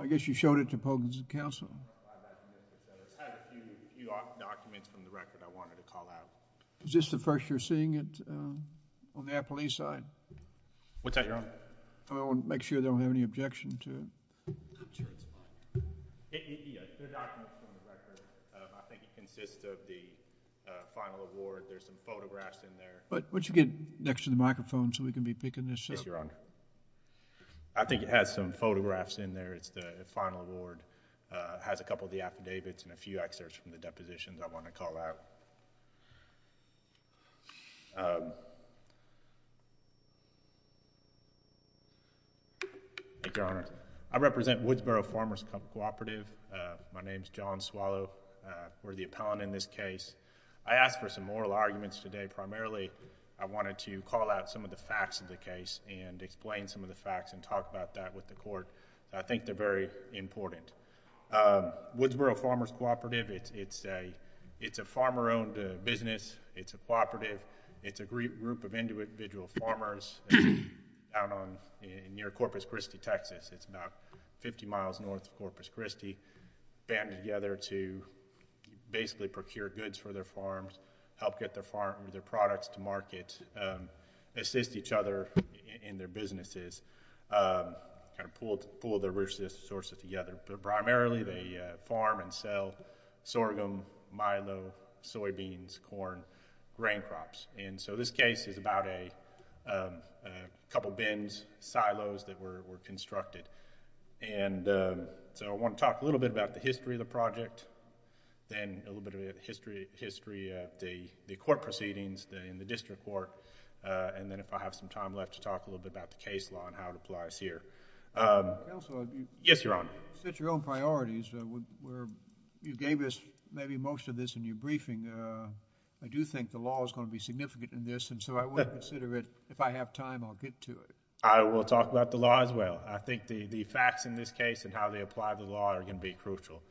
I guess you showed it to Pogon's and council is this the first you're seeing it on their police side what's that you're on I want to make sure they don't have any objection to but what you get next to the microphone so we can be going to show your honor I think it has some photographs in there it's the final award has a couple of the affidavits and a few excerpts from the depositions I want to call out your honor I represent Woodsboro Farmers Cooperative my name is John Swallow we're the appellant in this case I asked for some moral arguments today primarily I wanted to call out some of the facts of the case and explain some of the facts and talk about that with the court I think they're very important Woodsboro Farmers Cooperative it's a it's a farmer owned business it's a cooperative it's a group of individual farmers out on near Corpus Christi Texas it's about 50 miles north of Corpus Christi banded together to basically procure goods for their farms help get their farm their products to market assist each other in their businesses kind of pulled pull their resources together but primarily they farm and sell sorghum milo soybeans corn grain crops and so this case is about a couple bins silos that were constructed and so I want to talk a little bit about the history of the project then a little bit of history history at the the court proceedings in the district court and then if I have some time left to talk a little bit about the case law and how it applies here yes your honor set your own priorities where you gave us maybe most of this in your briefing I do think the law is going to be significant in this and so I would consider it if I have time I'll get to it I will talk about the law as well I think the the facts in this case and how they apply the law are going to be crucial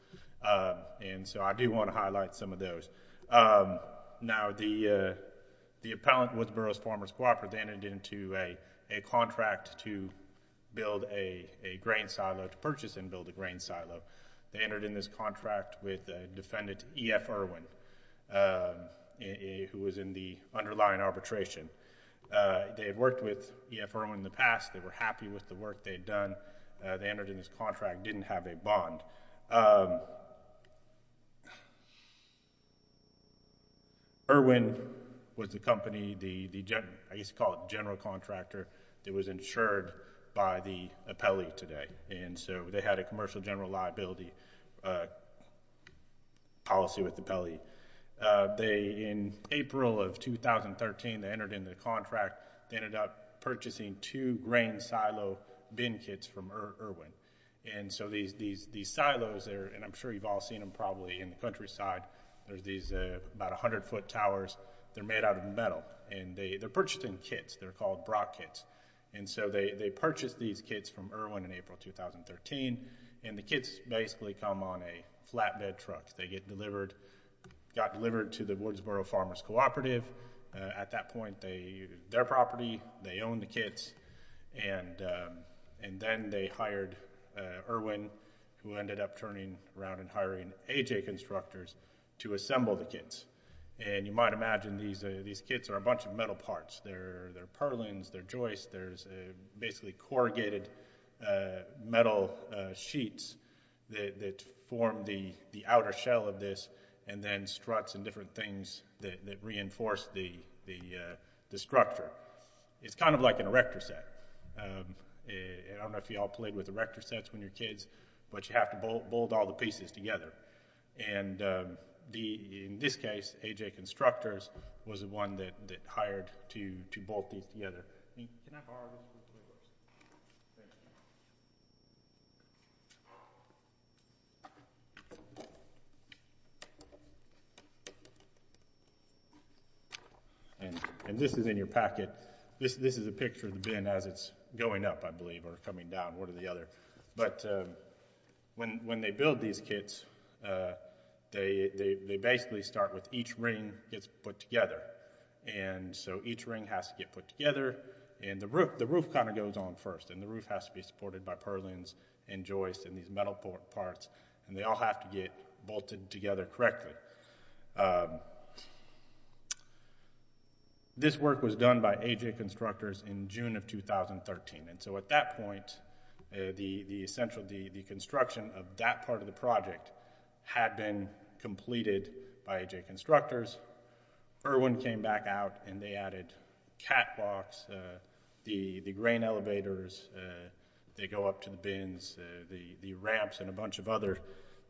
and so I do want to highlight some of those now the the appellant with Burroughs Farmers Cooperative entered into a contract to build a grain silo to purchase and build a grain silo they entered in this contract with the defendant EF Irwin who was in the underlying arbitration they had worked with EF Irwin in the past they were happy with the work they'd done they entered in this contract didn't have a bond Irwin was the company the I used to call it general contractor it was insured by the appellee today and so they had a commercial general liability policy with the appellee they in April of 2013 they entered into the contract they ended up purchasing two grain silo bin kits from Irwin and so these these these silos there and I'm sure you've all seen them probably in the countryside there's these about a hundred foot towers they're made out of metal and they they're purchased in kits they're called Brock kits and so they they purchased these kits from Irwin in April 2013 and the kits basically come on a flatbed truck they get delivered got delivered to the Woodsboro Farmers Cooperative at that point they their property they own the kits and and then they hired Irwin who ended up turning around and hiring AJ constructors to assemble the kits and you might imagine these these kits are a bunch of metal parts they're they're purlins they're joists there's a basically corrugated metal sheets that form the the outer shell of this and then struts and different things that reinforced the the structure it's kind of like an erector set I don't know if you all played with erector sets when you're kids but you have to bolt bolt all the pieces together and the in this case AJ constructors was the one that hired to to bolt these together and this is in your packet this this is a picture of the bin as it's going up I believe or coming down one or the other but when when they build these kits they they basically start with each ring gets put together and so each ring has to get put together and the roof the roof kind of goes on first and the roof has to be supported by purlins and joists and these metal parts and they all have to get bolted together correctly this work was done by AJ constructors in June of 2013 and so at that point the the essential the the construction of that part of the project had been completed by AJ constructors Irwin came back out and they added catwalks the the grain elevators they go up to the bins the the ramps and a bunch of other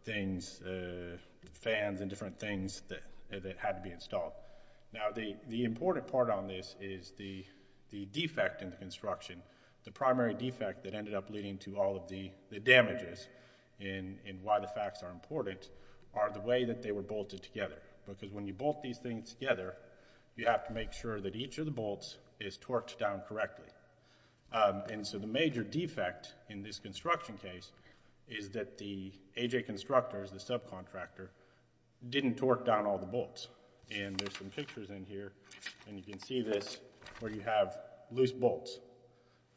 things fans and different things that had to be installed now the the important part on this is the the defect in the construction the primary defect that ended up leading to all of the the damages in in why the facts are important are the way that they were bolted together because when you bolt these things together you have to make sure that each of the bolts is torqued down correctly and so the major defect in this construction case is that the AJ constructors the subcontractor didn't torque down all the bolts and there's some pictures in here and you can see this where you have loose bolts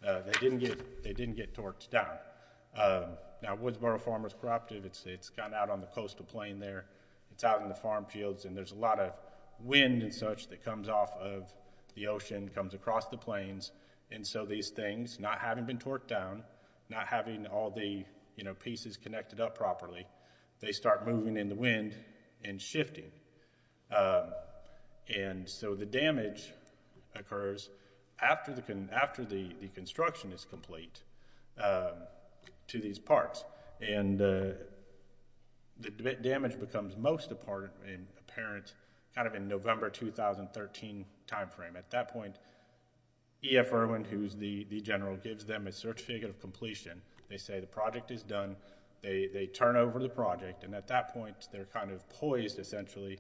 they didn't get they didn't get torqued down now Woodsboro Farmers Corrupted it's it's gone out on the coastal plain there it's out in the farm fields and there's a lot of wind and such that comes off of the ocean comes across the plains and so these things not having been torqued down not having all the you know pieces connected up properly they start moving in the wind and shifting and so the damage occurs after the can after the construction is complete to these parts and the damage becomes most apparent kind of in November 2013 time frame at that point EF Irwin who's the the general gives them a certificate of completion they say the project is done they turn over the project and at that point they're kind of poised essentially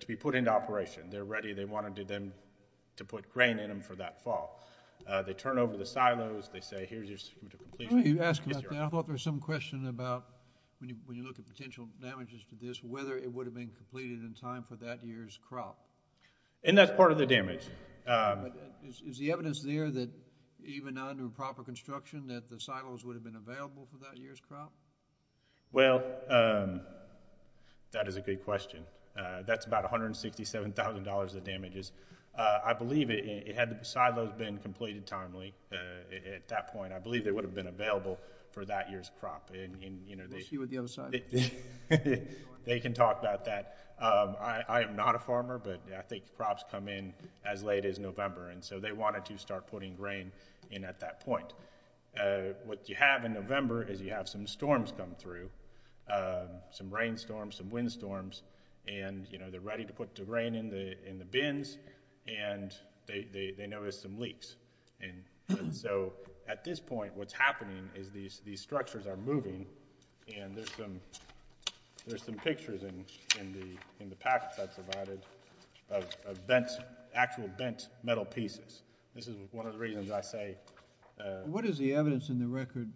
to be put into operation they're ready they wanted to them to put grain in them for that fall. They turn over the silos they say here's your certificate of completion. You asked about that, I thought there was some question about when you look at potential damages to this whether it would have been completed in time for that year's crop. And that's part of the damage. Is the evidence there that even under proper construction that the silos would have been available for that year's crop? Well that is a good question that's about a hundred and sixty seven thousand dollars of damages. I believe it had the silos been completed timely at that point I believe they would have been available for that year's crop and you know they can talk about that. I am NOT a farmer but I think crops come in as late as November and so they wanted to start putting grain in at that point. What you have in November is you have some storms come through some rain storms and you know they're ready to put the grain in the bins and they notice some leaks. And so at this point what's happening is these these structures are moving and there's some there's some pictures in the packet that's provided of actual bent metal pieces. This is one of the reasons I say. What is the evidence in the record?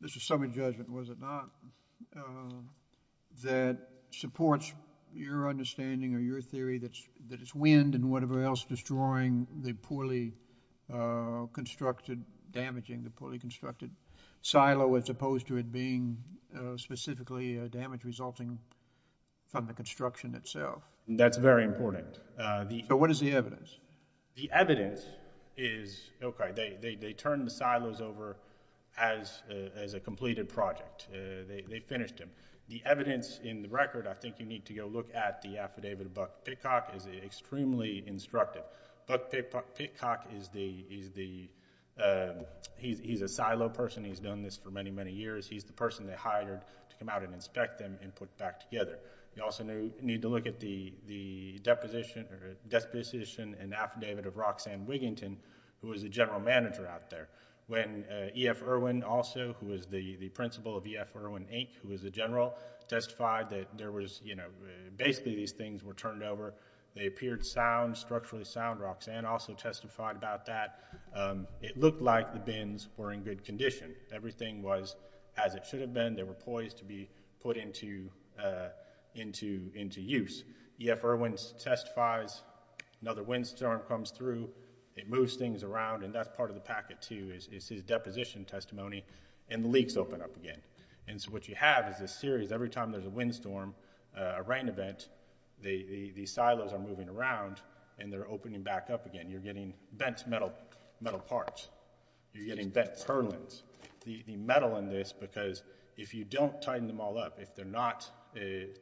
This was summary judgment was it not? That supports your understanding or your theory that's that it's wind and whatever else destroying the poorly constructed damaging the poorly constructed silo as opposed to it being specifically a damage resulting from the construction itself. That's very important. What is the evidence? The finished him. The evidence in the record I think you need to go look at the affidavit of Buck Pitcock is extremely instructive. Buck Pitcock is the he's the he's a silo person he's done this for many many years he's the person they hired to come out and inspect them and put back together. You also need to look at the the deposition or disposition and affidavit of Roxanne Wiginton who was a general manager out there. When EF Irwin also who was the principal of EF Irwin Inc. who was a general testified that there was you know basically these things were turned over. They appeared sound structurally sound Roxanne also testified about that. It looked like the bins were in good condition. Everything was as it should have been. They were poised to be put into into into use. EF Irwin testifies another wind storm comes through. It moves things around and that's part of the packet too is his deposition testimony and the leaks open up again. And so what you have is this series every time there's a wind storm a rain event the the silos are moving around and they're opening back up again. You're getting bent metal metal parts. You're getting bent purlins. The metal in this because if you don't tighten them all up if they're not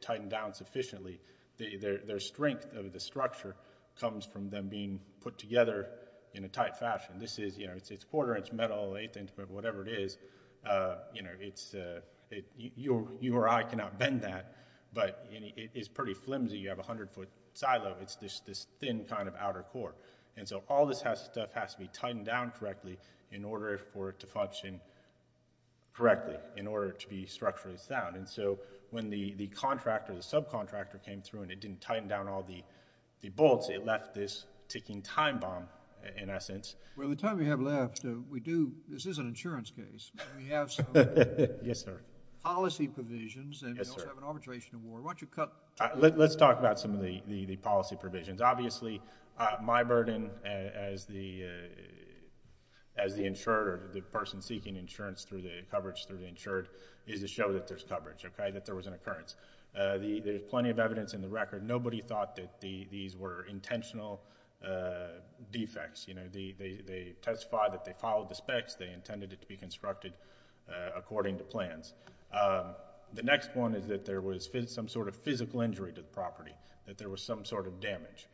tightened down sufficiently the their strength of the structure comes from them being put together in a tight fashion. This is you know whatever it is you know it's it you or I cannot bend that but it is pretty flimsy. You have a hundred foot silo. It's this thin kind of outer core and so all this has stuff has to be tightened down correctly in order for it to function correctly in order to be structurally sound. And so when the the contractor the subcontractor came through and it didn't tighten down all the the bolts it left this ticking time bomb in essence. Well the time we have left we do this is an insurance case. We have some policy provisions and we also have an arbitration award. Why don't you cut. Let's talk about some of the policy provisions. Obviously my burden as the as the insurer the person seeking insurance through the coverage through the insured is to show that there's coverage okay that there was an occurrence. The there's plenty of evidence in the record. Nobody thought that the these were intentional defects you know the they testify that they followed the specs they intended it to be constructed according to plans. The next one is that there was fit some sort of physical injury to the property that there was some sort of damage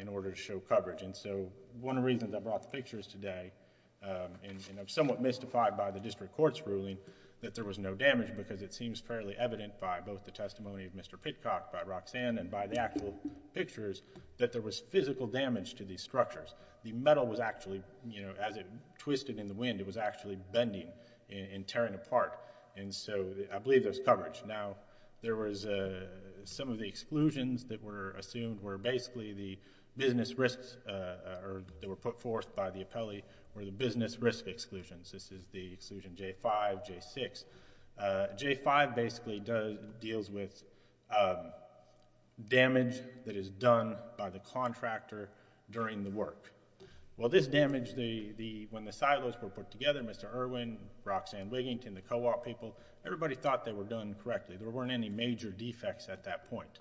in order to show coverage. And so one of reasons I brought the pictures today and I'm somewhat mystified by the district courts ruling that there was no damage because it seems fairly evident by both the testimony of Mr. Pitcock by Roxanne and by the actual pictures that there was physical damage to these structures. The metal was actually you know as it twisted in the wind it was actually bending and tearing apart and so I believe there's coverage. Now there was some of the exclusions that were assumed were basically the business risks or they were put forth by the appellee or the business risk exclusions. This is the damage that is done by the contractor during the work. Well this damage the the when the silos were put together Mr. Irwin, Roxanne Wiggington, the co-op people, everybody thought they were done correctly. There weren't any major defects at that point.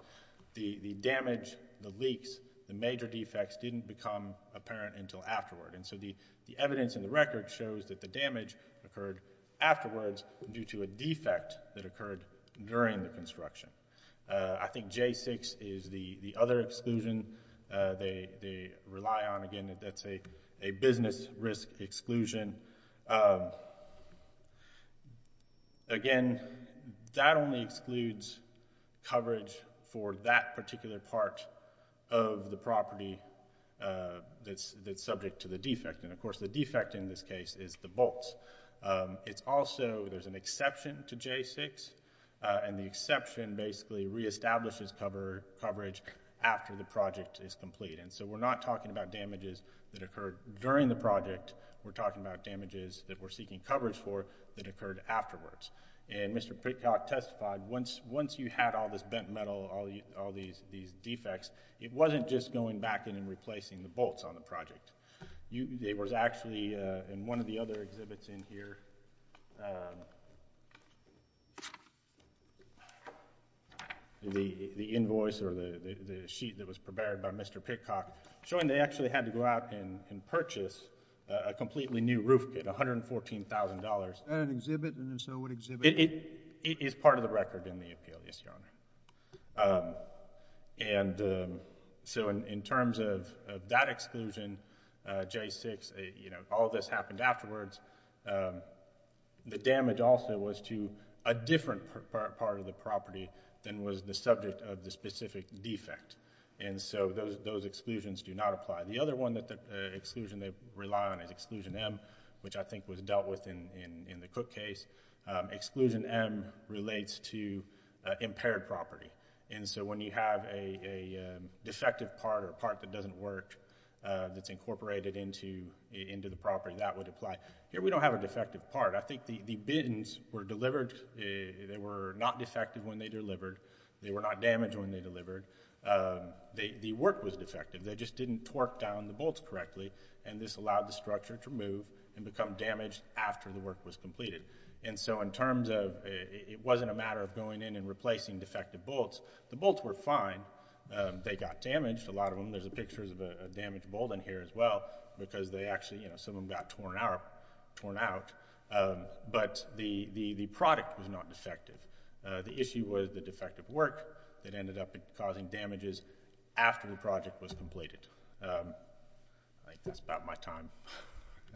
The the damage, the leaks, the major defects didn't become apparent until afterward. And so the the evidence in the record shows that the damage occurred afterwards due to a defect that occurred during the work. I think J6 is the the other exclusion they rely on. Again that's a a business risk exclusion. Again that only excludes coverage for that particular part of the property that's that's subject to the defect. And of course the defect in this case is the bolts. It's also there's an exception to J6 and the exception basically re-establishes cover coverage after the project is complete. And so we're not talking about damages that occurred during the project. We're talking about damages that we're seeking coverage for that occurred afterwards. And Mr. Pitcock testified once once you had all this bent metal, all these these defects, it wasn't just going back in and replacing the bolts on the project. You there was actually in one of the other exhibits in the exhibit that Mr. Pitcock showed, which is here, the invoice or the sheet that was prepared by Mr. Pitcock, showing they actually had to go out and purchase a completely new roof at $114,000. Is that an exhibit and so what exhibit? It is part of the record in the appeal, yes your honor. And so in terms of that exclusion, J6, you the damage also was to a different part of the property than was the subject of the specific defect. And so those those exclusions do not apply. The other one that the exclusion they rely on is exclusion M, which I think was dealt with in in the Cook case. Exclusion M relates to impaired property and so when you have a defective part or part that doesn't work that's incorporated into the property that would apply. Here we don't have a defective part. I think the the bins were delivered, they were not defective when they delivered, they were not damaged when they delivered, the work was defective. They just didn't torque down the bolts correctly and this allowed the structure to move and become damaged after the work was completed. And so in terms of it wasn't a matter of going in and replacing defective bolts, the bolts were fine. They got damaged, a lot of them. There's a picture of a damaged bolt in here as well because they actually, you know, some of them got torn out, but the the the product was not defective. The issue was the defective work that ended up causing damages after the project was completed. I think that's about my time.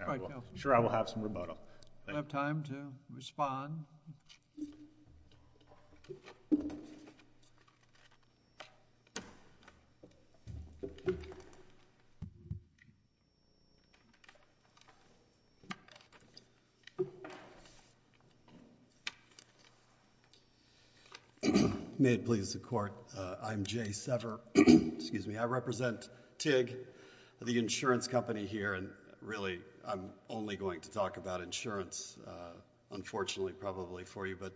I'm sure I will have some remoto. I have time to respond. May it please the Court. I'm Jay Sever. Excuse me. I represent TIG, the insurance company here, and really I'm only going to talk about insurance, unfortunately, probably for you, but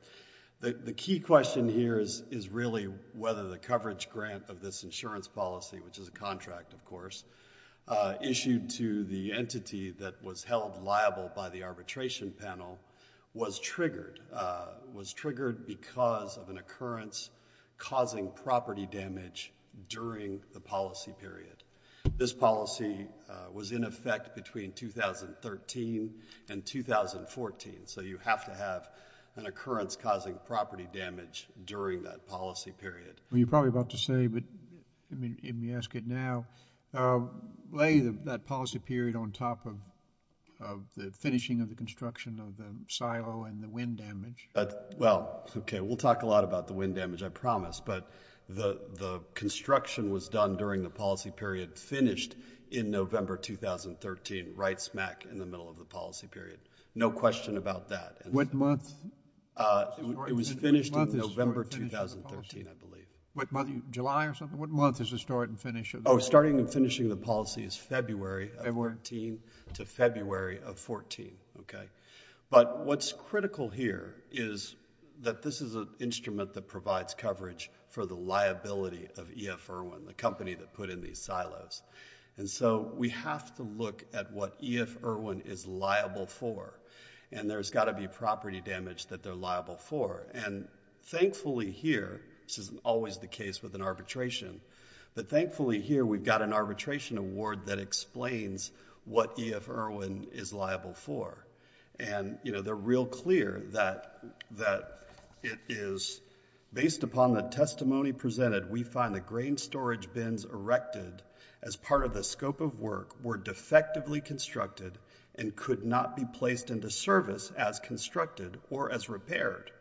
the key question here is is really whether the coverage grant of this insurance policy, which is a contract of course, issued to the entity that was held liable by the arbitration panel was triggered, was triggered because of an occurrence causing property damage during the policy was in effect between 2013 and 2014, so you have to have an occurrence causing property damage during that policy period. You're probably about to say, but let me ask it now, lay that policy period on top of the finishing of the construction of the silo and the wind damage. Well, okay, we'll talk a lot about the wind damage, I promise, but the the construction was done during the November 2013, right smack in the middle of the policy period. No question about that. What month? It was finished in November 2013, I believe. July or something? What month is the start and finish? Oh, starting and finishing the policy is February of 14 to February of 14, okay, but what's critical here is that this is an instrument that provides coverage for the liability of EF Irwin, the company that put in these silos, and so we have to look at what EF Irwin is liable for, and there's got to be property damage that they're liable for, and thankfully here, this isn't always the case with an arbitration, but thankfully here we've got an arbitration award that explains what EF Irwin is liable for, and you know they're real clear that that it is based upon the fact that the storage bins erected as part of the scope of work were defectively constructed and could not be placed into service as constructed or as repaired.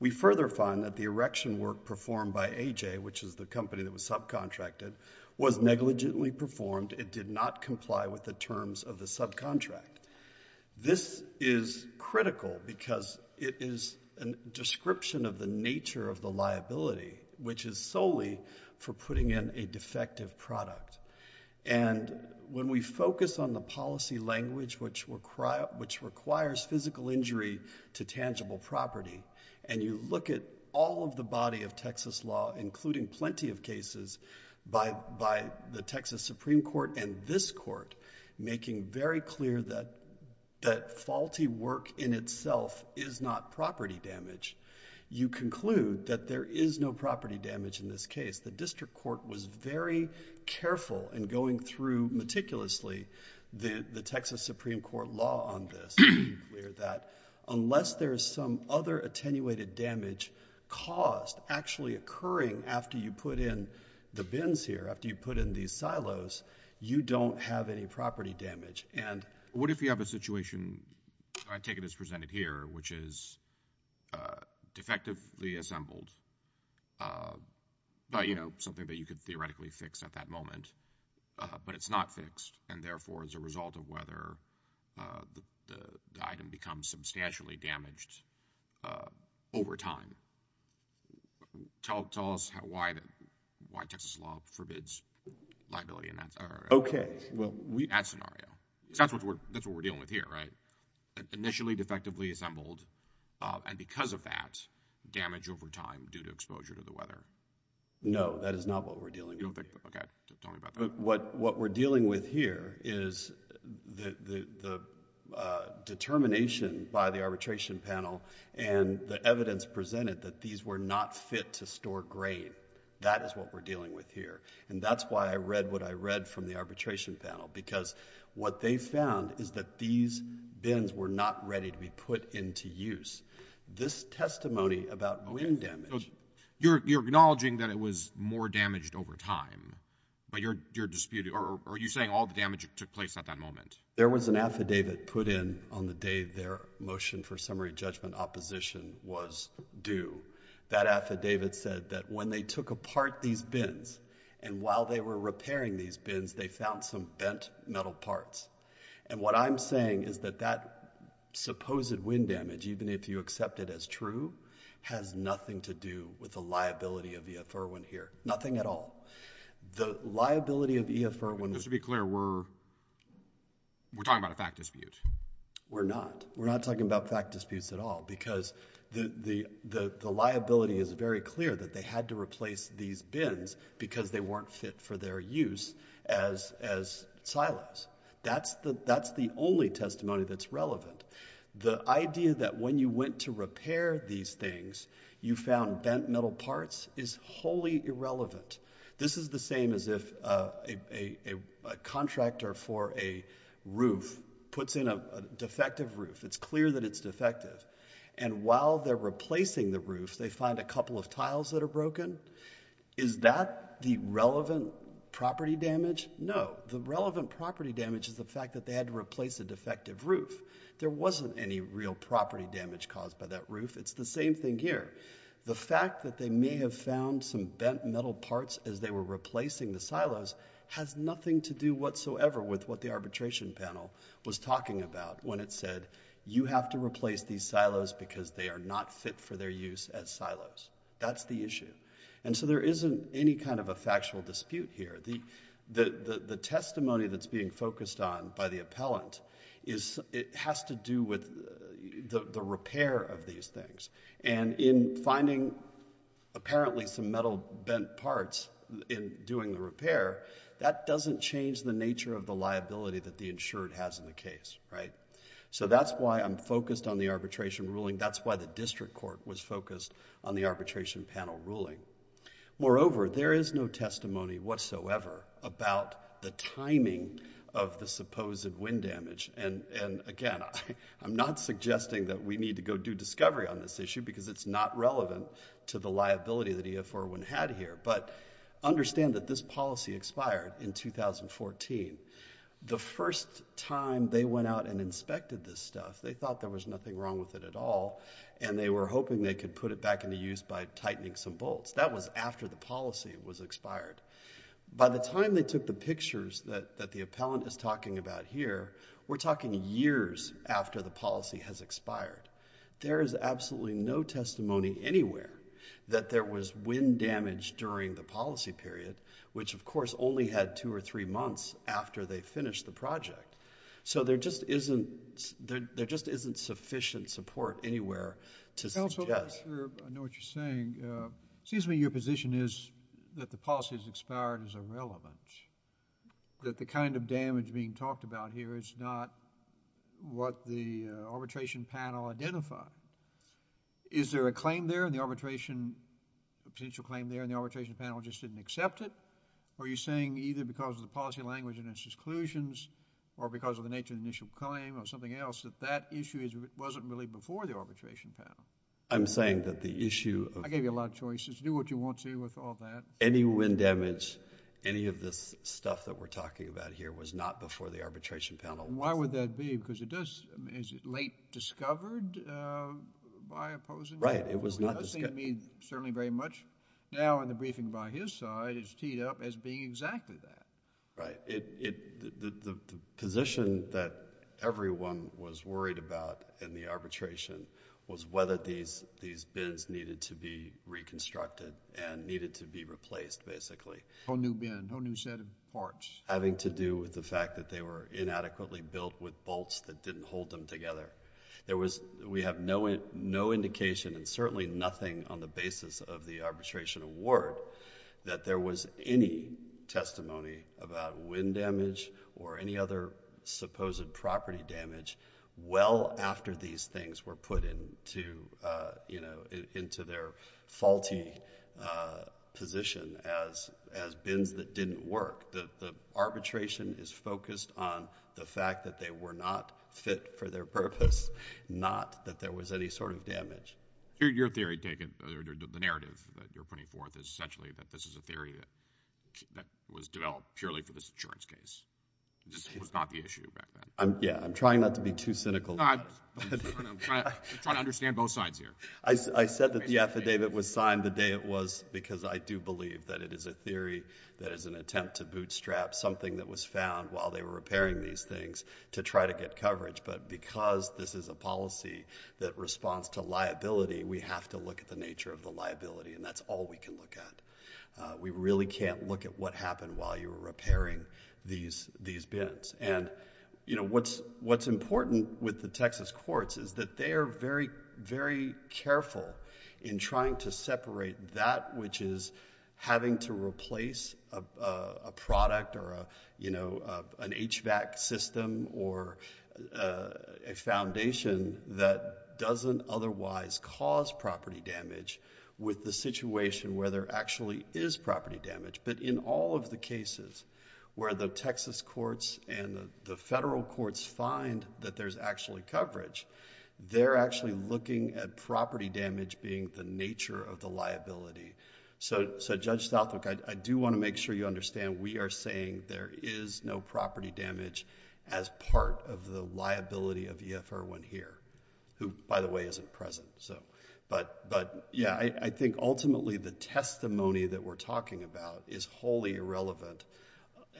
We further find that the erection work performed by AJ, which is the company that was subcontracted, was negligently performed. It did not comply with the terms of the subcontract. This is critical because it is a description of the nature of the liability, which is solely for putting in a defective product, and when we focus on the policy language which requires physical injury to tangible property, and you look at all of the body of Texas law, including plenty of cases by the Texas Supreme Court and this Court, making very clear that faulty work in itself is not property damage, you conclude that there is no property damage in this case. The District Court was very careful in going through meticulously the Texas Supreme Court law on this, making clear that unless there is some other attenuated damage caused actually occurring after you put in the bins here, after you put in these silos, you don't have any property damage. What if you have a situation, I take it as presented here, which is defectively assembled, something that you could theoretically fix at that moment, but it's not fixed, and therefore, as a result of whether the item becomes substantially damaged over time? Tell us why Texas law forbids liability in that... That's what we're dealing with here, right? Initially defectively assembled, and because of that, damage over time due to exposure to the weather? No, that is not what we're dealing with. What we're dealing with here is the determination by the arbitration panel and the evidence presented that these were not fit to store grain. That is what we're dealing with here, and that's why I read what I read from the arbitration panel, because what they found is that these bins were not ready to be put into use. This testimony about grain damage... So you're acknowledging that it was more damaged over time, but you're disputing... or are you saying all the damage that took place at that moment? There was an affidavit put in on the day their motion for summary judgment opposition was due. That affidavit said that when they took apart these bins, and while they were repairing these bins, they found some bent metal parts. And what I'm saying is that that supposed wind damage, even if you accept it as true, has nothing to do with the liability of E.F. Irwin here. Nothing at all. The liability of E.F. Irwin... Just to be clear, we're talking about a fact dispute? We're not. We're not talking about fact disputes at all, because the liability is very clear that they had to replace these bins because they weren't fit for their use as silos. That's the only testimony that's relevant. The idea that when you went to repair these things, you found bent metal parts is wholly a defective roof. It's clear that it's defective. And while they're replacing the roof, they find a couple of tiles that are broken. Is that the relevant property damage? No. The relevant property damage is the fact that they had to replace a defective roof. There wasn't any real property damage caused by that roof. It's the same thing here. The fact that they may have found some bent metal parts as they were replacing the silos has nothing to do whatsoever with what the arbitration panel was talking about when it said you have to replace these silos because they are not fit for their use as silos. That's the issue. There isn't any kind of a factual dispute here. The testimony that's being focused on by the appellant has to do with the repair of these things. In finding apparently some metal bent parts in doing the repair, that doesn't change the nature of the liability that the insured has in the case. That's why I'm focused on the arbitration ruling. That's why the district court was focused on the arbitration panel ruling. Moreover, there is no testimony whatsoever about the timing of the supposed wind damage. Again, I'm not suggesting that we need to go do discovery on this issue because it's not relevant to the liability that EFR 1 had here. But understand that this is 2014. The first time they went out and inspected this stuff, they thought there was nothing wrong with it at all and they were hoping they could put it back into use by tightening some bolts. That was after the policy was expired. By the time they took the pictures that the appellant is talking about here, we're talking years after the policy has expired. There is absolutely no testimony anywhere that there was wind damage during the policy period, which of policy was expired. The policy was expired in the first three months after they finished the project. So there just isn't sufficient support anywhere to suggest... Counselor, I know what you're saying. It seems to me your position is that the policy has expired is irrelevant, that the kind of damage being talked about here is not what the arbitration panel identified. Is there a claim there in the arbitration, a potential claim there and the arbitration panel just didn't accept it? Are you saying either because of the policy language and its exclusions or because of the nature of the initial claim or something else that that issue wasn't really before the arbitration panel? I'm saying that the issue... I gave you a lot of choices. Do what you want to with all that. Any wind damage, any of this stuff that we're talking about here was not before the arbitration panel. Why would that be? Because it does... is it late discovered by opposing... Right. It was not... It does seem to me, certainly very much now in the briefing by his side, it's teed up as being exactly that. Right. The position that everyone was worried about in the arbitration was whether these bins needed to be reconstructed and needed to be replaced basically. A whole new bin, a whole new set of parts. Having to do with the fact that they were inadequately built with bolts that didn't hold them together. There was... we have no indication and certainly nothing on the basis of the arbitration award that there was any testimony about wind damage or any other supposed property damage well after these things were put into their faulty position as bins that didn't work. The arbitration is focused on the fact that they were not fit for their purpose, not that there was any sort of damage. Your theory, the narrative that you're putting forth is essentially that this is a theory that was developed purely for this insurance case. This was not the issue back then. Yeah. I'm trying not to be too cynical... I'm trying to understand both sides here. I said that the affidavit was signed the day it was because I do believe that it is a theory that is an attempt to bootstrap something that was found while they were repairing these things to try to get coverage, but because this is a policy that responds to liability, we have to look at the nature of the liability and that's all we can look at. We really can't look at what happened while you were repairing these bins. What's important with the Texas courts is that they are very, very careful in trying to separate that which is having to replace a product or an HVAC system or a foundation that doesn't otherwise cause property damage with the situation where there actually is property damage. In all of the cases where the Texas courts and the federal courts find that there's actually coverage, they're actually looking at property damage being the nature of the liability. Judge Southwick, I do want to make sure you understand we are saying there is no property damage as part of the liability of EF-R1 here, who, by the way, isn't present, but yeah, I think ultimately the testimony that we're talking about is wholly irrelevant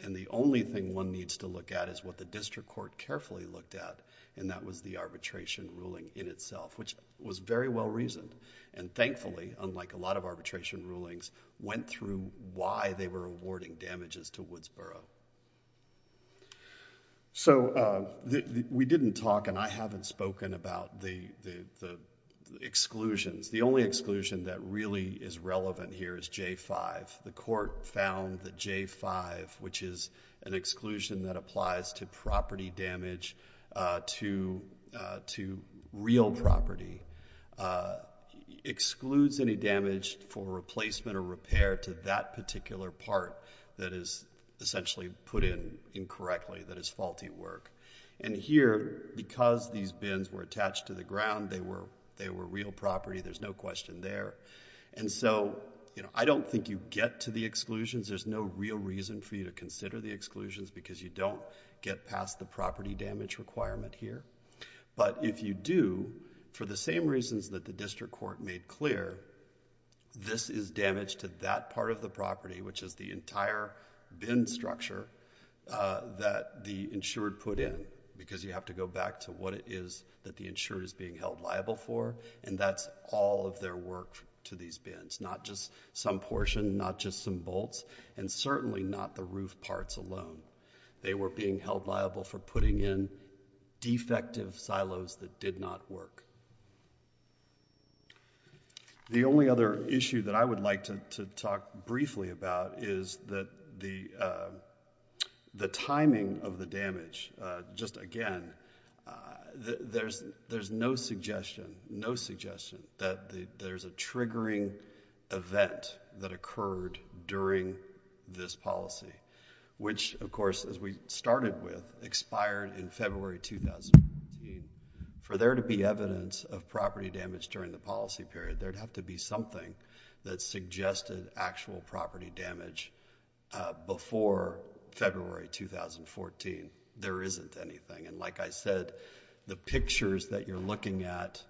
and the only thing one needs to look at is what the district court carefully looked at and that was the arbitration ruling in itself, which was very well reasoned and thankfully, unlike a lot of arbitration rulings, went through why they were awarding damages to Woodsboro. So we didn't talk and I haven't spoken about the exclusions. The only exclusion that really is relevant here is J-5. The court found that J-5, which is an exclusion that applies to property damage to real property, excludes any damage for replacement or repair to that particular part that is essentially put in incorrectly, that is faulty work. And here, because these bins were attached to the ground, they were real property. There's no question there. And so I don't think you get to the exclusions. There's no real reason for you to consider the exclusions because you don't get past the property damage requirement here. But if you do, for the same reasons that the district court made clear, this is damage to that part of the property, which is the entire bin structure that the insured put in because you have to go back to what it is that the insured is being held liable for and that's all of their work to these bins, not just some portion, not just some bolts and certainly not the roof parts alone. They were being held liable for putting in defective silos that did not work. The only other issue that I would like to talk briefly about is that the timing of the damage, just again, there's no suggestion, no suggestion that there's a And of course, as we started with, expired in February 2014. For there to be evidence of property damage during the policy period, there'd have to be something that suggested actual property damage before February 2014. There isn't anything. And like I said, the pictures that you're looking at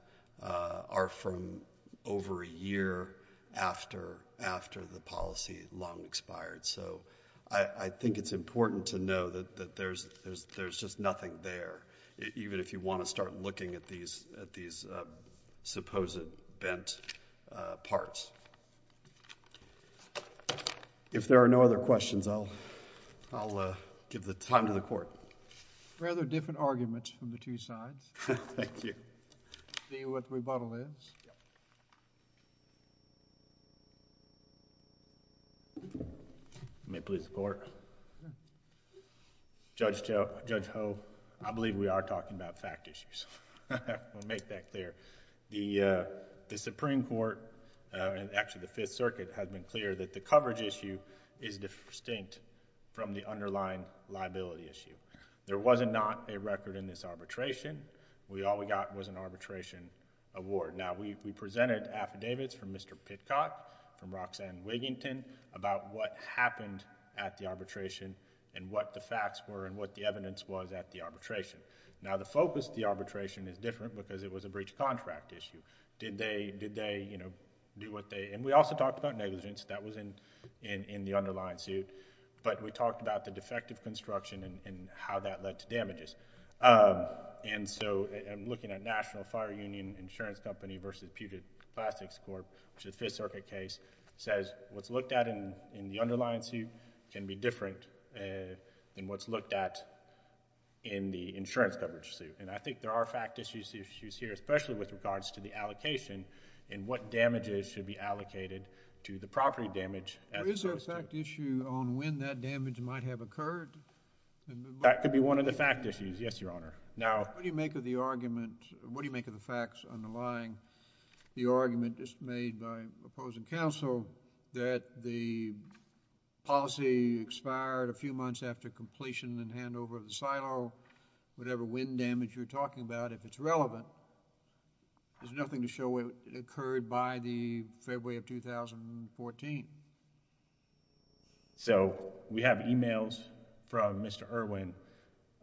are from over a year after the policy long expired. So, I think it's important to know that there's just nothing there, even if you want to start looking at these supposed bent parts. If there are no other questions, I'll give the time to the court. Thank you. Judge Ho, I believe we are talking about fact issues. I'll make that clear. The Supreme Court and actually the Fifth Circuit has been clear that the coverage issue is distinct from the underlying liability issue. There was not a record in this arbitration. We all we got was an arbitration award. Now, we presented affidavits from Mr. Pitcock, from Roxanne Wigington about what happened at the arbitration and what the facts were and what the evidence was at the arbitration. Now the focus of the arbitration is different because it was a breach of contract issue. Did they, you know, do what they... and we also talked about negligence. That was in the underlying suit. But we talked about the defective construction and how that led to damages. And so I'm looking at National Fire Union Insurance Company versus Puget Plastics Corp., which is a Fifth Circuit case, says what's looked at in the underlying suit can be different than what's looked at in the insurance coverage suit. And I think there are fact issues here, especially with regards to the allocation and what damages should be allocated to the property damage... Is there a fact issue on when that damage might have occurred? That could be one of the fact issues, yes, Your Honor. Now... What do you make of the argument, what do you make of the facts underlying the argument just made by opposing counsel that the policy expired a few months after completion and there's a potential to have a leak, a leak over the land over the silo, whatever wind damage you were talking about, if it's relevant. There's nothing to show it occurred by the February of 2014. So we have emails from Mr. Irwin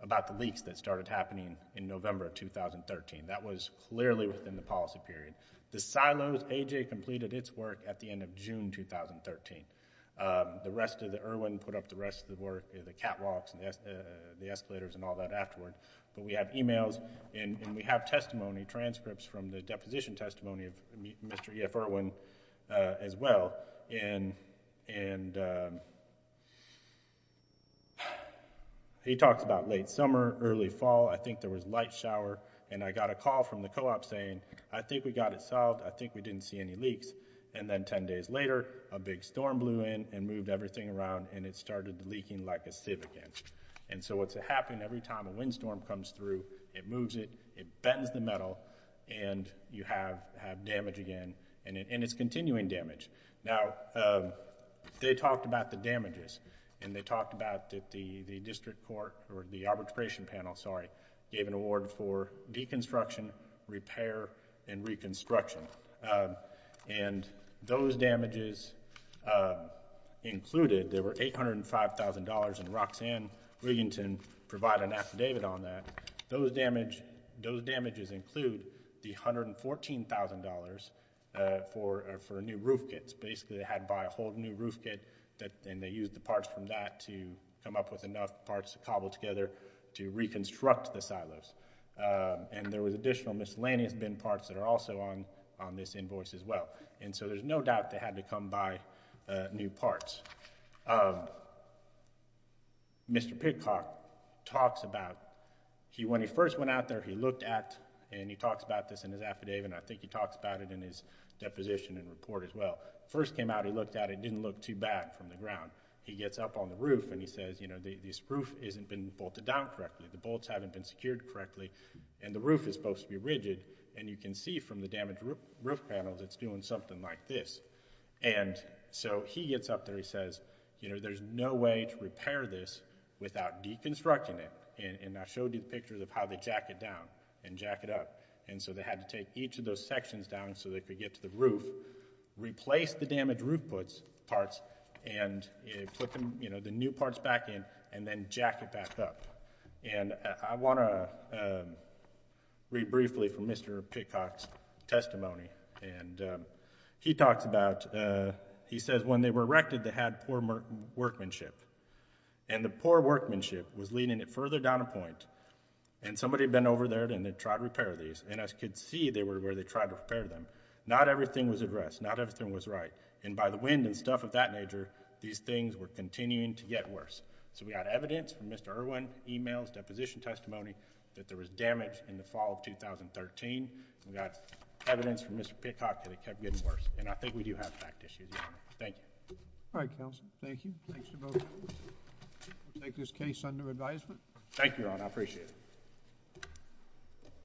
about the leaks that started happening in November of 2013. That was clearly within the policy period. The silos A.J. completed its work at the end of June 2013. The rest of the Irwin put up the rest of the work, the catwalks and the escalators and all that afterward. But we have emails and we have testimony transcripts from the deposition testimony of Mr. E.F. Irwin as well and he talks about late summer, early fall, I think there was light shower and I got a call from the co-op saying, I think we got it solved, I think we didn't see any leaks. And then 10 days later, a big storm blew in and moved everything around and it started leaking like a sieve again. And so what's happened every time a windstorm comes through, it moves it, it bends the metal and you have damage again and it's continuing damage. Now they talked about the damages and they talked about the district court or the arbitration panel, sorry, gave an award for deconstruction, repair and reconstruction. And those damages included, there were $805,000 and Roxanne Willington provided an affidavit on that. Those damages include the $114,000 for new roof kits, basically they had to buy a whole new roof kit and they used the parts from that to come up with enough parts to cobble together to reconstruct the silos. And there was additional miscellaneous bent parts that are also on this invoice as well. And so there's no doubt they had to come by new parts. Mr. Pitcock talks about, when he first went out there, he looked at and he talks about this in his affidavit and I think he talks about it in his deposition and report as well. First came out, he looked at it, it didn't look too bad from the ground. He gets up on the roof and he says, you know, this roof hasn't been bolted down correctly, the bolts haven't been secured correctly and the roof is supposed to be rigid and you can see from the damaged roof panels it's doing something like this. And so he gets up there and he says, you know, there's no way to repair this without deconstructing it and I showed you pictures of how they jack it down and jack it up. And so they had to take each of those sections down so they could get to the roof, replace the damaged roof parts and put the new parts back in and then jack it back up. And I want to read briefly from Mr. Pitcock's testimony and he talks about, he says when they were erected they had poor workmanship and the poor workmanship was leading it further down a point and somebody had been over there and they tried to repair these and as you could see they were where they tried to repair them. Not everything was addressed, not everything was right and by the wind and stuff of that nature these things were continuing to get worse. So we got evidence from Mr. Irwin's e-mails, deposition testimony that there was damage in the fall of 2013, we got evidence from Mr. Pitcock that it kept getting worse and I think we do have fact issues, Your Honor. Thank you. All right, counsel. Thank you. Thanks to both of you. We'll take this case under advisement. Thank you, Your Honor. I appreciate it.